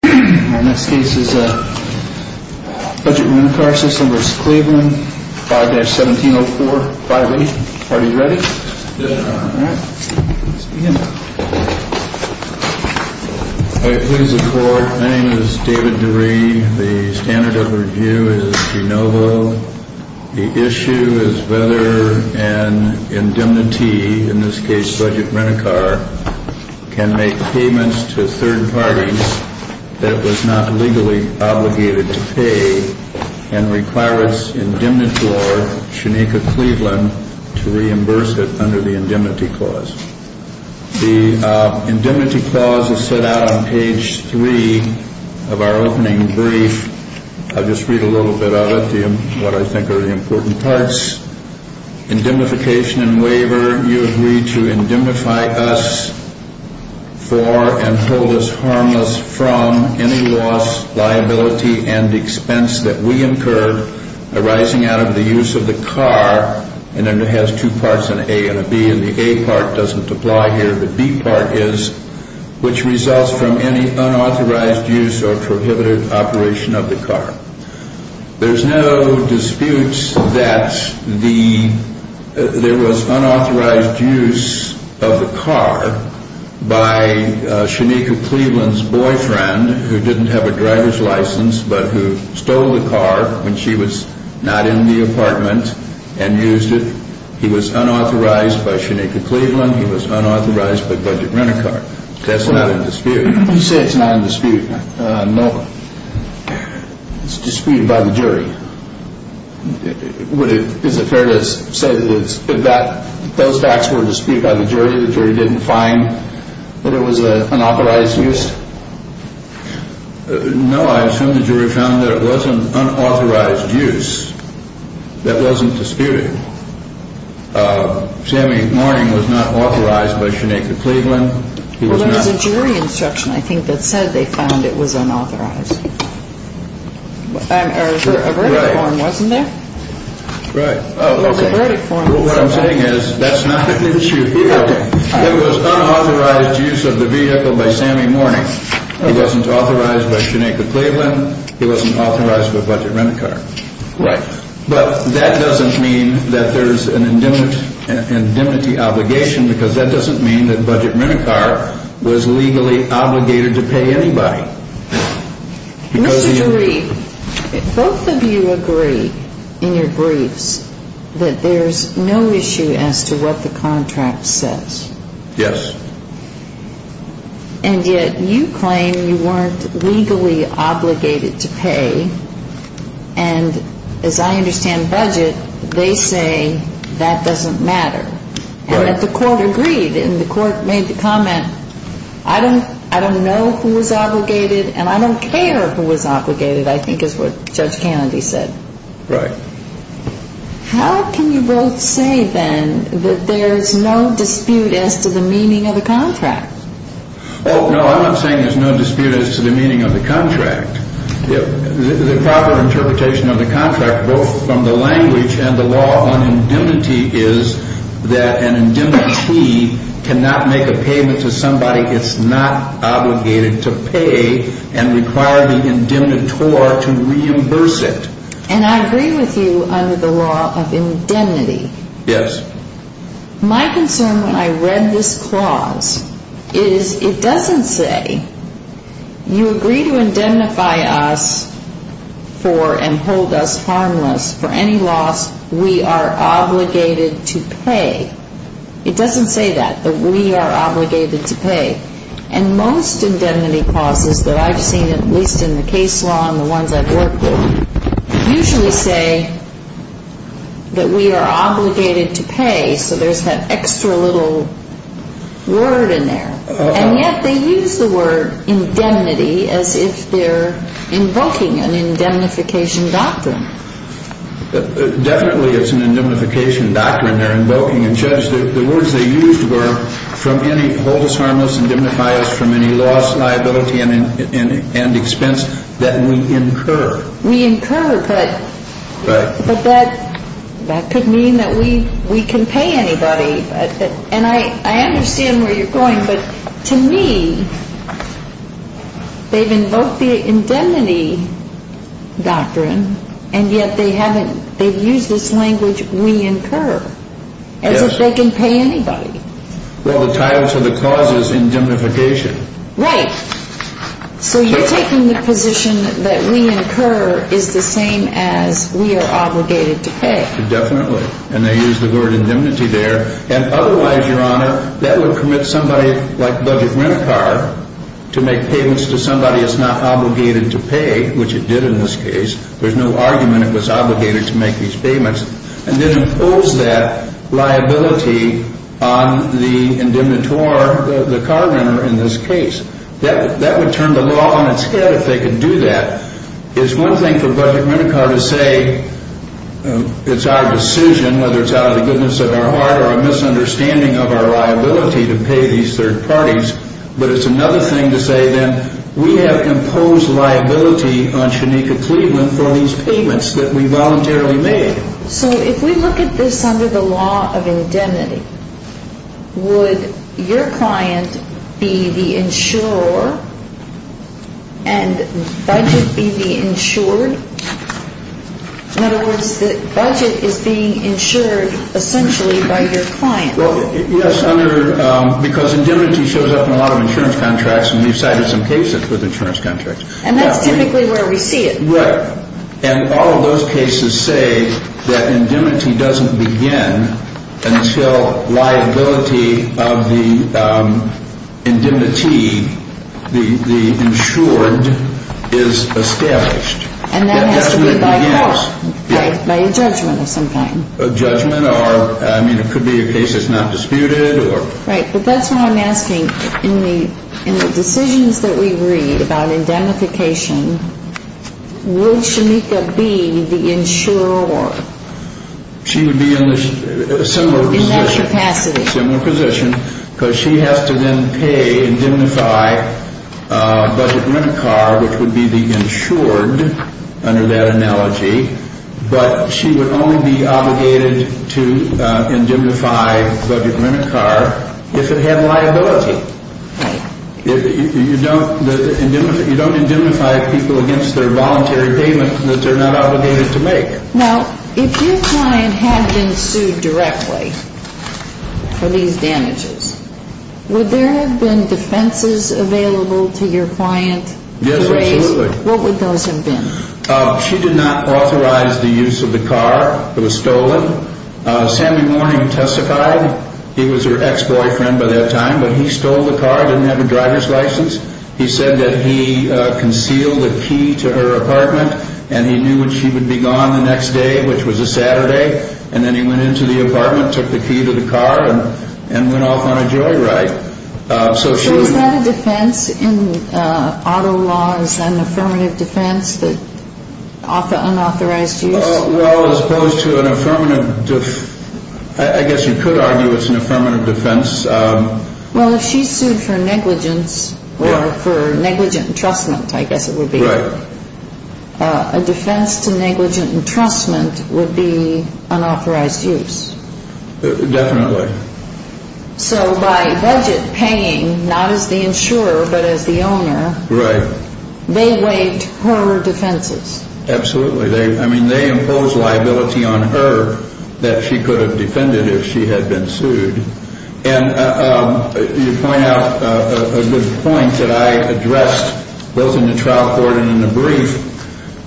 Budget Rent-A-Car System, Inc. v. Cleveland, 5-170458. Are you ready? Yes. All right. Let's begin. I plead as a court, my name is David DeRee. The standard of the review is de novo. The issue is whether an indemnity, in this case budget rent-a-car, can make payments to third parties that it was not legally obligated to pay and require its indemnity lawyer, Shanika Cleveland, to reimburse it under the Indemnity Clause. The Indemnity Clause is set out on page 3 of our opening brief. I'll just read a little bit of it, what I think are the important parts. Indemnification and waiver. You agree to indemnify us for and hold us harmless from any loss, liability, and expense that we incur arising out of the use of the car, and then it has two parts, an A and a B, and the A part doesn't apply here, the B part is, which results from any unauthorized use or prohibited operation of the car. There's no dispute that there was unauthorized use of the car by Shanika Cleveland's boyfriend, who didn't have a driver's license but who stole the car when she was not in the apartment and used it. He was unauthorized by Shanika Cleveland, he was unauthorized by budget rent-a-car. That's not in dispute. You say it's not in dispute. No. It's disputed by the jury. Is it fair to say that those facts were disputed by the jury, the jury didn't find that it was an unauthorized use? No, I assume the jury found that it was an unauthorized use that wasn't disputed. Sammy Morning was not authorized by Shanika Cleveland. Well, there was a jury instruction, I think, that said they found it was unauthorized. Or a verdict form, wasn't there? Right. Well, the verdict form. What I'm saying is that's not in dispute. It was unauthorized use of the vehicle by Sammy Morning. He wasn't authorized by Shanika Cleveland, he wasn't authorized by budget rent-a-car. Right. But that doesn't mean that there's an indemnity obligation because that doesn't mean that budget rent-a-car was legally obligated to pay anybody. Mr. DeReef, both of you agree in your briefs that there's no issue as to what the contract says. Yes. And yet you claim you weren't legally obligated to pay. And as I understand budget, they say that doesn't matter. And that the court agreed and the court made the comment, I don't know who was obligated and I don't care who was obligated, I think is what Judge Kennedy said. Right. How can you both say then that there's no dispute as to the meaning of the contract? Oh, no, I'm not saying there's no dispute as to the meaning of the contract. The proper interpretation of the contract, both from the language and the law on indemnity, is that an indemnity cannot make a payment to somebody it's not obligated to pay and require the indemnitor to reimburse it. And I agree with you under the law of indemnity. Yes. My concern when I read this clause is it doesn't say, you agree to indemnify us for and hold us harmless for any loss we are obligated to pay. It doesn't say that, that we are obligated to pay. And most indemnity clauses that I've seen, at least in the case law and the ones I've worked with, usually say that we are obligated to pay. So there's that extra little word in there. And yet they use the word indemnity as if they're invoking an indemnification doctrine. Definitely it's an indemnification doctrine they're invoking. And Judge, the words they used were hold us harmless, indemnify us from any loss, liability and expense that we incur. We incur, but that could mean that we can pay anybody. And I understand where you're going. But to me, they've invoked the indemnity doctrine and yet they haven't, they've used this language we incur as if they can pay anybody. Well, the title of the clause is indemnification. Right. So you're taking the position that we incur is the same as we are obligated to pay. Definitely. And they use the word indemnity there. And otherwise, Your Honor, that would permit somebody like a budget rent car to make payments to somebody that's not obligated to pay, which it did in this case. There's no argument it was obligated to make these payments. And then impose that liability on the indemnitor, the car renter in this case. That would turn the law on its head if they could do that. It's one thing for a budget renter car to say it's our decision, whether it's out of the goodness of our heart or a misunderstanding of our liability to pay these third parties, but it's another thing to say then we have imposed liability on Shanika Cleveland for these payments that we voluntarily made. So if we look at this under the law of indemnity, would your client be the insurer and budget be the insured? In other words, the budget is being insured essentially by your client. Yes, because indemnity shows up in a lot of insurance contracts, and we've cited some cases with insurance contracts. And that's typically where we see it. Right. And all of those cases say that indemnity doesn't begin until liability of the indemnity, the insured, is established. And that has to be by a law, by a judgment of some kind. A judgment or, I mean, it could be a case that's not disputed or. Right. But that's what I'm asking. In the decisions that we read about indemnification, would Shanika be the insurer? She would be in a similar position. In that capacity. Similar position, because she has to then pay, indemnify a budget renter car, which would be the insured under that analogy. But she would only be obligated to indemnify a budget renter car if it had liability. Right. You don't indemnify people against their voluntary payment that they're not obligated to make. Now, if your client had been sued directly for these damages, would there have been defenses available to your client? Yes, absolutely. What would those have been? She did not authorize the use of the car. It was stolen. Sammy Morning testified. He was her ex-boyfriend by that time, but he stole the car, didn't have a driver's license. He said that he concealed the key to her apartment and he knew when she would be gone the next day, which was a Saturday. And then he went into the apartment, took the key to the car and went off on a joyride. So is that a defense in auto laws, an affirmative defense, unauthorized use? Well, as opposed to an affirmative, I guess you could argue it's an affirmative defense. Well, if she's sued for negligence or for negligent entrustment, I guess it would be. Right. A defense to negligent entrustment would be unauthorized use. Definitely. So by budget paying, not as the insurer, but as the owner. Right. They waived her defenses. Absolutely. I mean, they impose liability on her that she could have defended if she had been sued. And you point out a good point that I addressed both in the trial court and in the brief,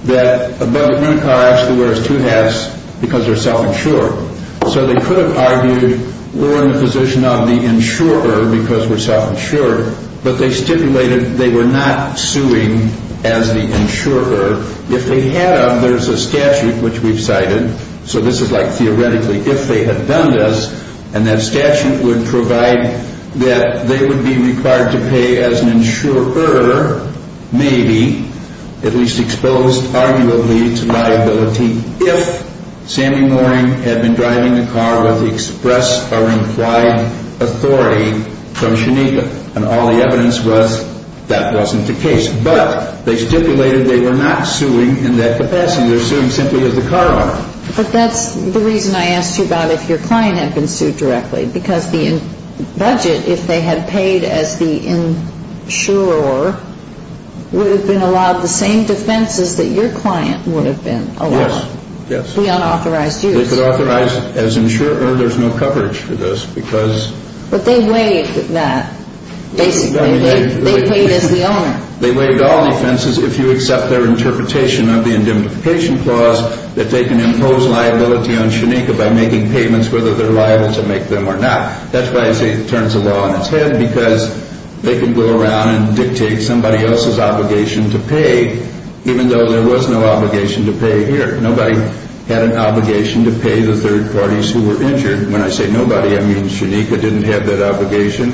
that a budget rental car actually wears two hats because they're self-insured. So they could have argued we're in a position of the insurer because we're self-insured, but they stipulated they were not suing as the insurer. If they had, there's a statute which we've cited. So this is like theoretically if they had done this, and that statute would provide that they would be required to pay as an insurer, maybe, at least exposed arguably to liability if Sammy Mooring had been driving the car with the express or implied authority from Shanika. And all the evidence was that wasn't the case. But they stipulated they were not suing in that capacity. They're suing simply as the car owner. But that's the reason I asked you about if your client had been sued directly, because the budget, if they had paid as the insurer, would have been allowed the same defenses that your client would have been allowed. Yes. The unauthorized use. They could authorize as insurer. There's no coverage for this because. But they waived that. They paid as the owner. They waived all defenses if you accept their interpretation of the indemnification clause that they can impose liability on Shanika by making payments whether they're liable to make them or not. That's why I say it turns a law on its head, because they can go around and dictate somebody else's obligation to pay, even though there was no obligation to pay here. Nobody had an obligation to pay the third parties who were injured. When I say nobody, I mean Shanika didn't have that obligation,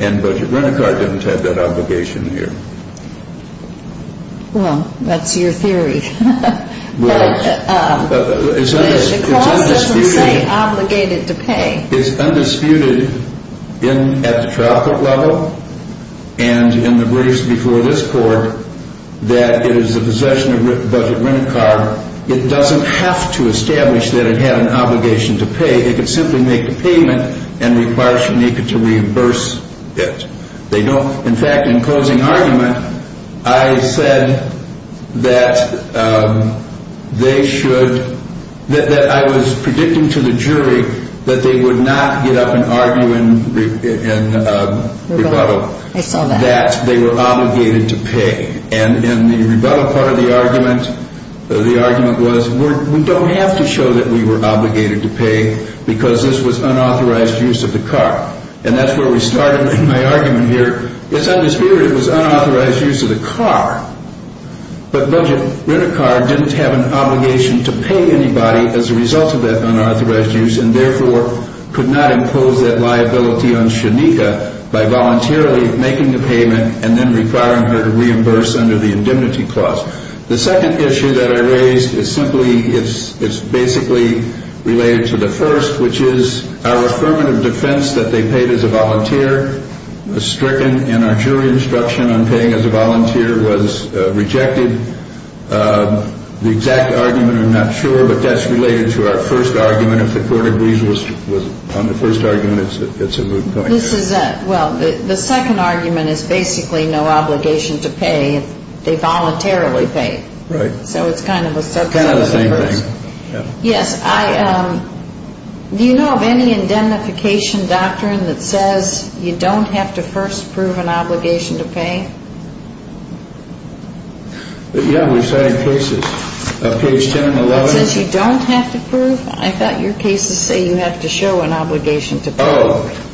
and Budget Rent-A-Car didn't have that obligation here. Well, that's your theory. Well, it's undisputed. The clause doesn't say obligated to pay. It's undisputed at the trial court level and in the briefs before this court that it is the possession of Budget Rent-A-Car. It doesn't have to establish that it had an obligation to pay. It could simply make the payment and require Shanika to reimburse it. In fact, in closing argument, I said that they should— that I was predicting to the jury that they would not get up and argue in rebuttal that they were obligated to pay. And in the rebuttal part of the argument, the argument was we don't have to show that we were obligated to pay because this was unauthorized use of the car. And that's where we started in my argument here. It's undisputed it was unauthorized use of the car. But Budget Rent-A-Car didn't have an obligation to pay anybody as a result of that unauthorized use and therefore could not impose that liability on Shanika by voluntarily making the payment and then requiring her to reimburse under the indemnity clause. The second issue that I raised is simply— it's basically related to the first, which is our affirmative defense that they paid as a volunteer was stricken and our jury instruction on paying as a volunteer was rejected. The exact argument, I'm not sure, but that's related to our first argument. If the Court agrees on the first argument, it's a moot point. This is a—well, the second argument is basically no obligation to pay. They voluntarily paid. Right. So it's kind of a subset of the first. It's kind of the same thing. Yes, I—do you know of any indemnification doctrine that says you don't have to first prove an obligation to pay? Yeah, we cited cases. Page 10 and 11. It says you don't have to prove? I thought your cases say you have to show an obligation to pay. Oh.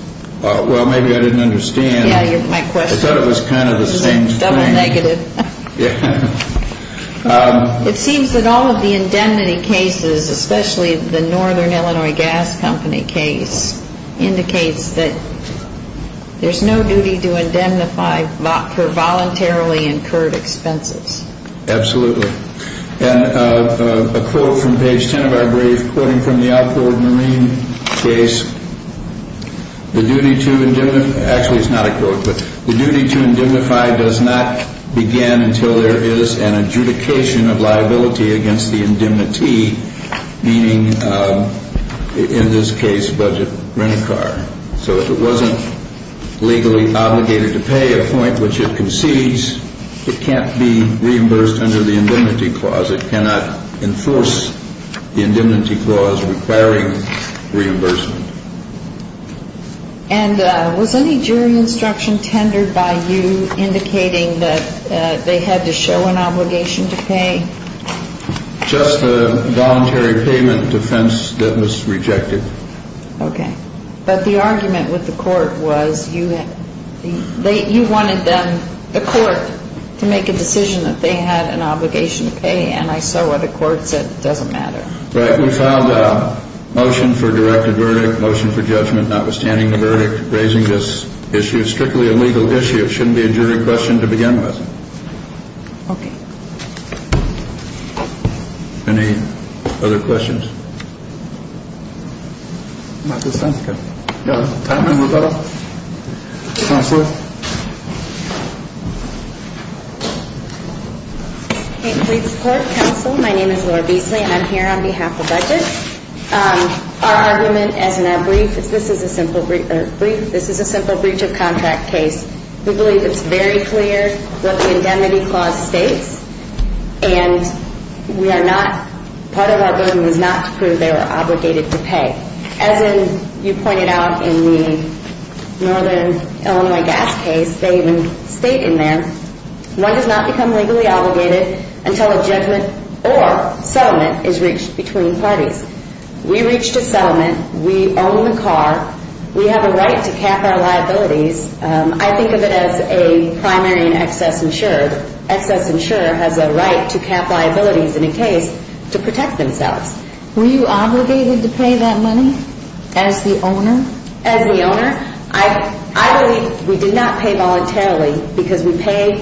Well, maybe I didn't understand. Yeah, my question. I thought it was kind of the same thing. This is a double negative. Yeah. It seems that all of the indemnity cases, especially the Northern Illinois Gas Company case, indicates that there's no duty to indemnify for voluntarily incurred expenses. Absolutely. And a quote from page 10 of our brief, quoting from the Alcor Marine case, the duty to indemnify—actually, it's not a quote, but the duty to indemnify does not begin until there is an adjudication of liability against the indemnity, meaning, in this case, budget rent-a-car. So if it wasn't legally obligated to pay at a point which it concedes, it can't be reimbursed under the indemnity clause. It cannot enforce the indemnity clause requiring reimbursement. And was any jury instruction tendered by you indicating that they had to show an obligation to pay? Just a voluntary payment defense that was rejected. Okay. But the argument with the court was you wanted them, the court, to make a decision that they had an obligation to pay, and I saw what the court said, it doesn't matter. Right. We filed a motion for directed verdict, motion for judgment, notwithstanding the verdict, raising this issue. It's strictly a legal issue. It shouldn't be a jury question to begin with. Okay. Any other questions? Not at this time, sir. No. Time to move on? Counselor? Please support counsel. My name is Laura Beasley, and I'm here on behalf of budgets. Our argument, as in our brief, is this is a simple breach of contract case. We believe it's very clear what the indemnity clause states, and part of our burden is not to prove they were obligated to pay. As you pointed out in the Northern Illinois gas case, they even state in there, one does not become legally obligated until a judgment or settlement is reached between parties. We reached a settlement. We own the car. We have a right to cap our liabilities. I think of it as a primary and excess insurer. Excess insurer has a right to cap liabilities in a case to protect themselves. As the owner? I believe we did not pay voluntarily because we paid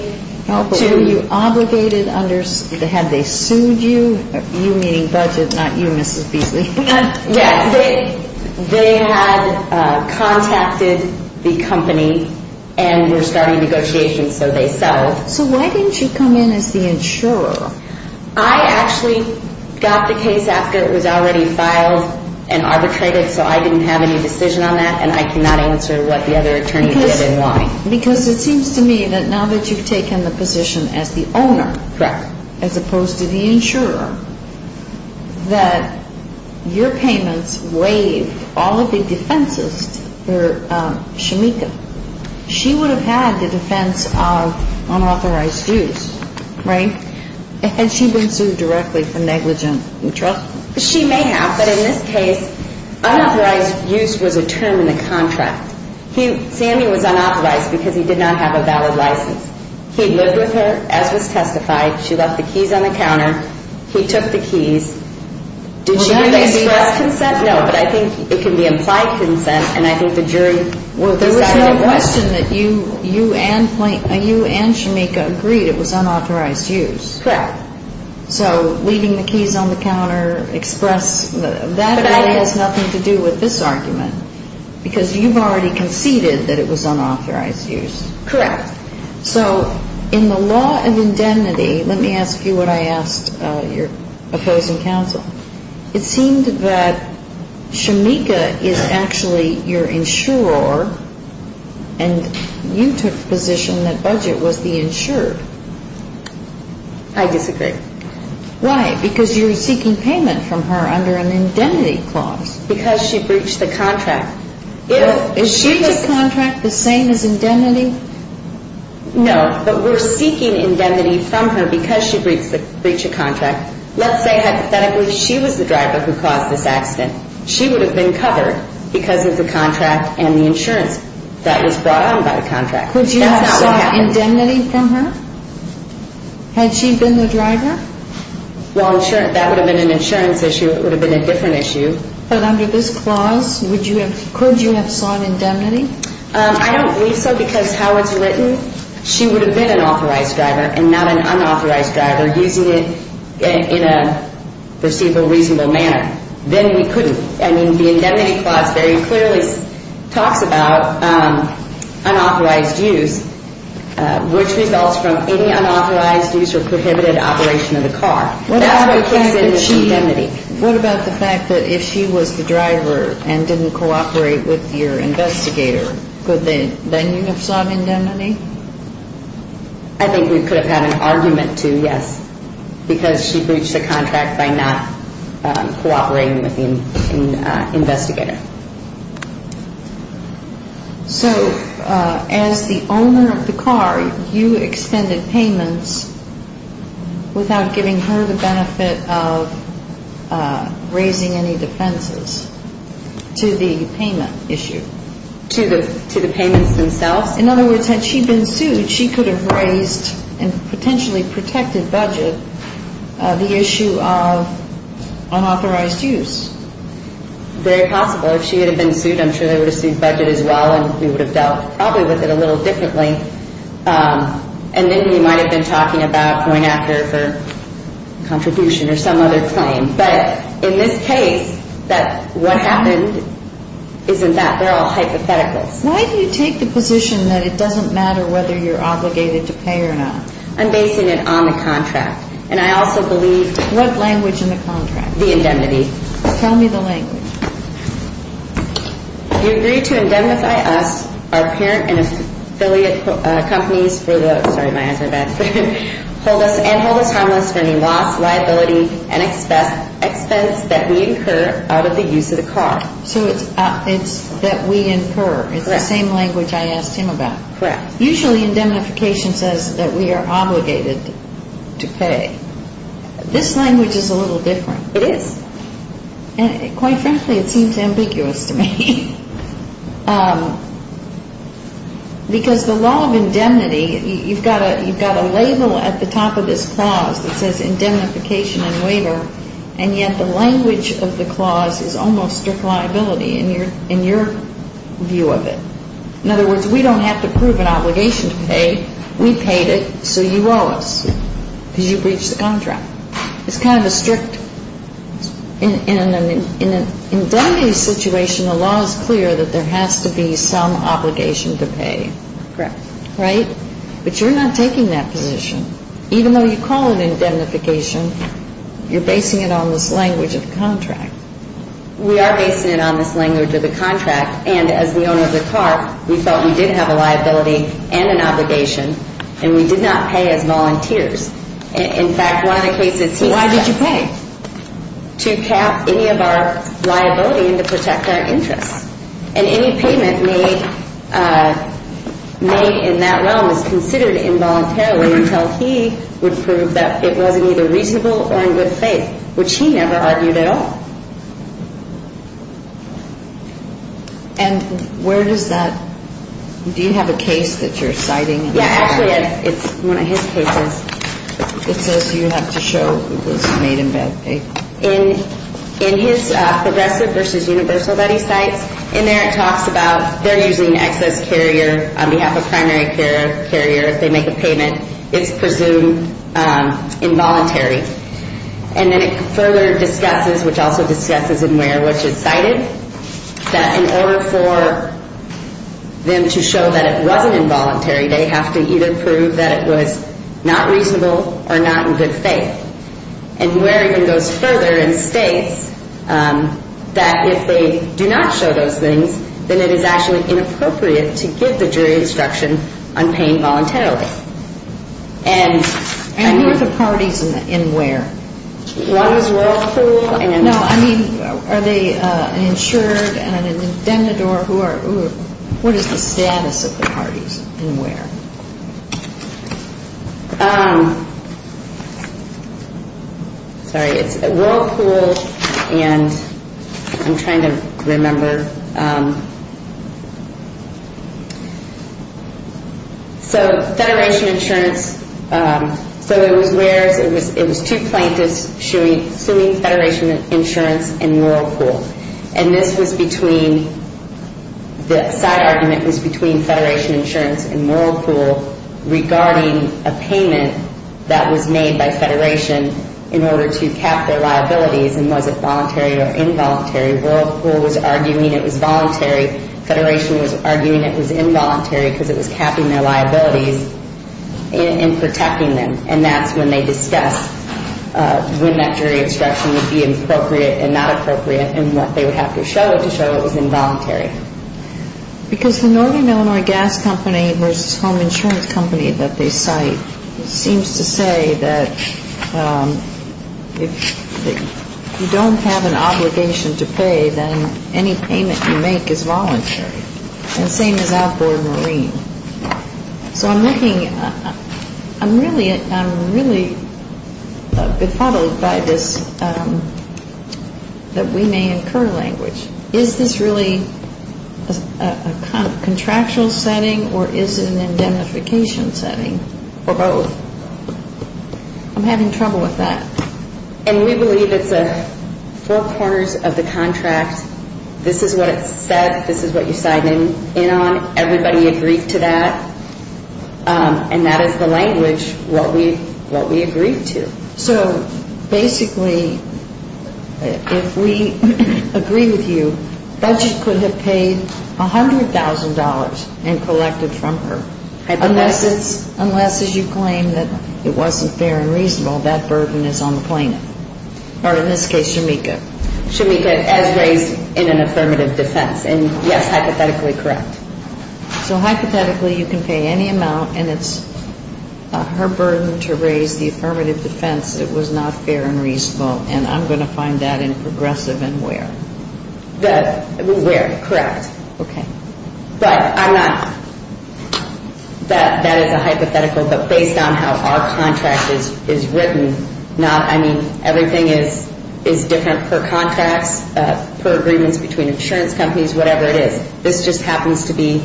to you. Were you obligated? Had they sued you? You meaning budgets, not you, Mrs. Beasley. Yes. They had contacted the company and were starting negotiations, so they settled. So why didn't you come in as the insurer? I actually got the case after it was already filed and arbitrated, so I didn't have any decision on that, and I cannot answer what the other attorney did and why. Because it seems to me that now that you've taken the position as the owner, as opposed to the insurer, that your payments waived all of the defenses for Shamika. She would have had the defense of unauthorized use, right? Had she been sued directly for negligent and trust? She may have, but in this case, unauthorized use was a term in the contract. Sammy was unauthorized because he did not have a valid license. He lived with her as was testified. She left the keys on the counter. He took the keys. Did she really express consent? No, but I think it can be implied consent, and I think the jury will decide what. There was no question that you and Shamika agreed it was unauthorized use. Correct. So leaving the keys on the counter, express, that has nothing to do with this argument because you've already conceded that it was unauthorized use. Correct. So in the law of indemnity, let me ask you what I asked your opposing counsel. It seemed that Shamika is actually your insurer, and you took the position that Budget was the insurer. I disagree. Why? Because you're seeking payment from her under an indemnity clause. Because she breached the contract. Is she's contract the same as indemnity? No, but we're seeking indemnity from her because she breached a contract. Let's say, hypothetically, she was the driver who caused this accident. She would have been covered because of the contract and the insurance that was brought on by the contract. Could you have sought indemnity from her had she been the driver? Well, that would have been an insurance issue. It would have been a different issue. But under this clause, could you have sought indemnity? I don't believe so because how it's written, she would have been an authorized driver and not an unauthorized driver using it in a perceivable, reasonable manner. Then we couldn't. I mean, the indemnity clause very clearly talks about unauthorized use, which results from any unauthorized use or prohibited operation of the car. That's what comes in as indemnity. What about the fact that if she was the driver and didn't cooperate with your investigator, could then you have sought indemnity? I think we could have had an argument to, yes, because she breached the contract by not cooperating with the investigator. So as the owner of the car, you expended payments without giving her the benefit of raising any defenses to the payment issue? To the payments themselves. In other words, had she been sued, she could have raised and potentially protected budget the issue of unauthorized use. Very possible. If she had been sued, I'm sure they would have sued budget as well, and we would have dealt probably with it a little differently. And then we might have been talking about going after her for contribution or some other claim. But in this case, what happened isn't that. They're all hypotheticals. Why do you take the position that it doesn't matter whether you're obligated to pay or not? I'm basing it on the contract, and I also believe. What language in the contract? The indemnity. Tell me the language. You agree to indemnify us, our parent and affiliate companies for the, sorry, my eyes are bad, and hold us harmless for any loss, liability, and expense that we incur out of the use of the car. So it's that we incur. Correct. It's the same language I asked him about. Correct. Usually indemnification says that we are obligated to pay. This language is a little different. It is. And quite frankly, it seems ambiguous to me. Because the law of indemnity, you've got a label at the top of this clause that says indemnification and waiver, and yet the language of the clause is almost strict liability in your view of it. In other words, we don't have to prove an obligation to pay. We paid it, so you owe us because you breached the contract. It's kind of a strict, in an indemnity situation, the law is clear that there has to be some obligation to pay. Correct. Right? But you're not taking that position. Even though you call it indemnification, you're basing it on this language of the contract. We are basing it on this language of the contract, and as the owner of the car, we felt we did have a liability and an obligation, and we did not pay as volunteers. In fact, one of the cases he said. Why did you pay? To cap any of our liability and to protect our interests. And any payment made in that realm is considered involuntarily until he would prove that it wasn't either reasonable or in good faith, which he never argued at all. And where does that, do you have a case that you're citing? Yeah, actually it's one of his cases. It says you have to show it was made in bad faith. In his progressive versus universal that he cites, in there it talks about they're using excess carrier on behalf of primary care carrier if they make a payment, it's presumed involuntary. And then it further discusses, which also discusses in where, which is cited that in order for them to show that it wasn't involuntary, they have to either prove that it was not reasonable or not in good faith. And where even goes further and states that if they do not show those things, then it is actually inappropriate to give the jury instruction on paying voluntarily. And who are the parties in where? One is Whirlpool. No, I mean, are they an insured and an indebted or who are, what is the status of the parties in where? Sorry, it's Whirlpool and I'm trying to remember. So Federation Insurance, so it was where, it was two plaintiffs suing Federation Insurance and Whirlpool. And this was between, the side argument was between Federation Insurance and Whirlpool regarding a payment that was made by Federation in order to cap their liabilities and was it voluntary or involuntary. Whirlpool was arguing it was voluntary. Federation was arguing it was involuntary because it was capping their liabilities and protecting them. And that's when they discussed when that jury instruction would be appropriate and not appropriate and what they would have to show to show it was involuntary. Because the Northern Illinois Gas Company versus Home Insurance Company that they cite seems to say that if you don't have an obligation to pay, then any payment you make is voluntary. And same as outboard marine. So I'm looking, I'm really befuddled by this, that we may incur language. Is this really a contractual setting or is it an indemnification setting or both? I'm having trouble with that. And we believe it's four corners of the contract. This is what it said. This is what you signed in on. Everybody agreed to that. And that is the language, what we agreed to. So basically if we agree with you, budget could have paid $100,000 and collected from her. Unless as you claim that it wasn't fair and reasonable, that burden is on the plaintiff. Or in this case, Shemekka. Shemekka, as raised in an affirmative defense. And, yes, hypothetically correct. So hypothetically you can pay any amount, and it's her burden to raise the affirmative defense it was not fair and reasonable. And I'm going to find that in progressive and where. Where, correct. Okay. But I'm not, that is a hypothetical. But based on how our contract is written, I mean, everything is different per contracts, per agreements between insurance companies, whatever it is. This just happens to be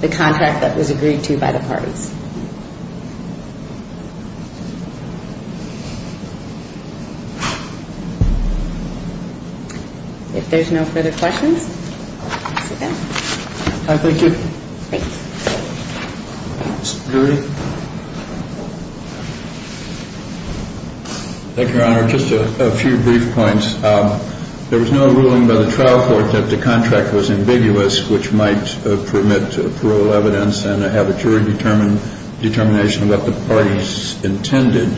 the contract that was agreed to by the parties. If there's no further questions, I'll sit down. Thank you. Thanks. Mr. Jury. Thank you, Your Honor. Just a few brief points. There was no ruling by the trial court that the contract was ambiguous, which might permit parole evidence and have a jury determination about the parties intended.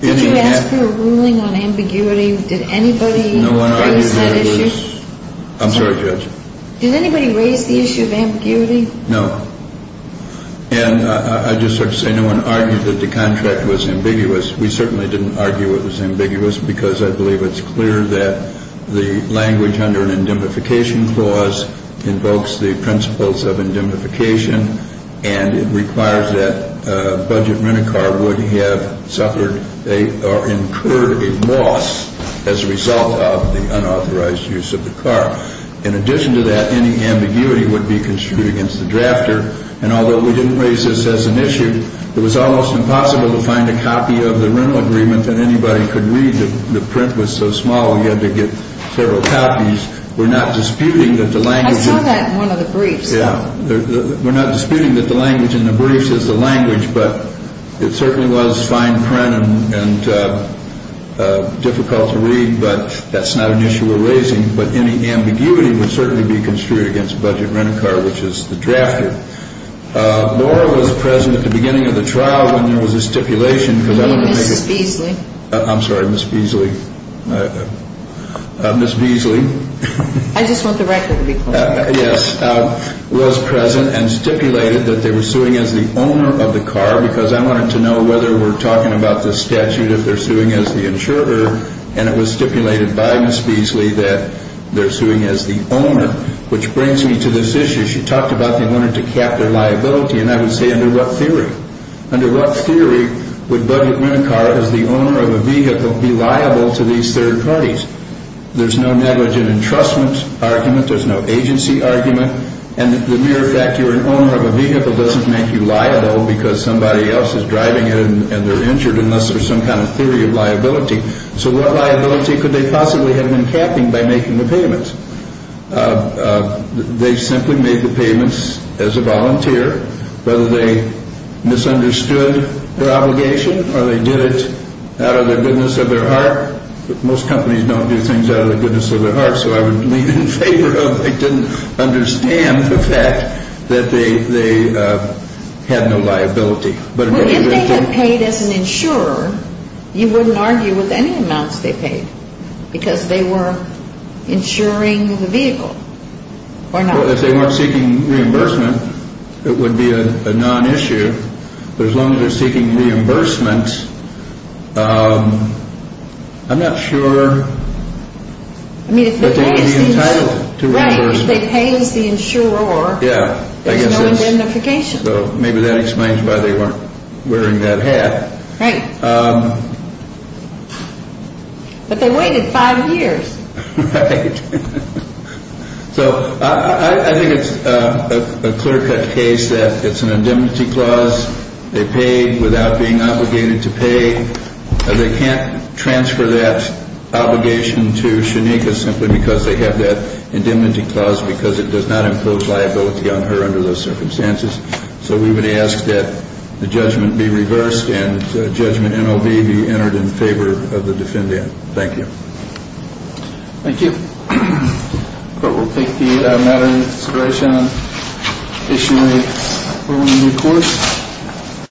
Did you ask for a ruling on ambiguity? Did anybody raise that issue? I'm sorry, Judge. Did anybody raise the issue of ambiguity? No. And I just have to say no one argued that the contract was ambiguous. We certainly didn't argue it was ambiguous because I believe it's clear that the language under an indemnification clause invokes the principles of indemnification, and it requires that a budget rent-a-car would have suffered or incurred a loss as a result of the unauthorized use of the car. In addition to that, any ambiguity would be construed against the drafter. And although we didn't raise this as an issue, it was almost impossible to find a copy of the rental agreement that anybody could read. The print was so small you had to get several copies. We're not disputing that the language in the briefs is the language, but it certainly was fine print and difficult to read, but that's not an issue we're raising. But any ambiguity would certainly be construed against a budget rent-a-car, which is the drafter. Laura was present at the beginning of the trial when there was a stipulation. Ms. Beasley. I'm sorry, Ms. Beasley. Ms. Beasley. I just want the record to be clear. Yes, was present and stipulated that they were suing as the owner of the car because I wanted to know whether we're talking about the statute if they're suing as the insurer, and it was stipulated by Ms. Beasley that they're suing as the owner, which brings me to this issue. She talked about they wanted to cap their liability, and I would say under what theory? Under what theory would budget rent-a-car as the owner of a vehicle be liable to these third parties? There's no negligent entrustment argument. There's no agency argument. And the mere fact you're an owner of a vehicle doesn't make you liable unless there's some kind of theory of liability. So what liability could they possibly have been capping by making the payments? They simply made the payments as a volunteer, whether they misunderstood their obligation or they did it out of the goodness of their heart. Most companies don't do things out of the goodness of their heart, so I would lean in favor of they didn't understand the fact that they had no liability. Well, if they had paid as an insurer, you wouldn't argue with any amounts they paid because they were insuring the vehicle or not. Well, if they weren't seeking reimbursement, it would be a non-issue. But as long as they're seeking reimbursement, I'm not sure that they would be entitled to reimbursement. Right, if they pay as the insurer, there's no indemnification. So maybe that explains why they weren't wearing that hat. Right. But they waited five years. Right. So I think it's a clear-cut case that it's an indemnity clause. They paid without being obligated to pay. They can't transfer that obligation to Shanika simply because they have that indemnity clause because it does not impose liability on her under those circumstances. So we would ask that the judgment be reversed and that Judgment NLB be entered in favor of the defendant. Thank you. Thank you. The Court will take the matter into consideration on Issue 8. Over to you, Court.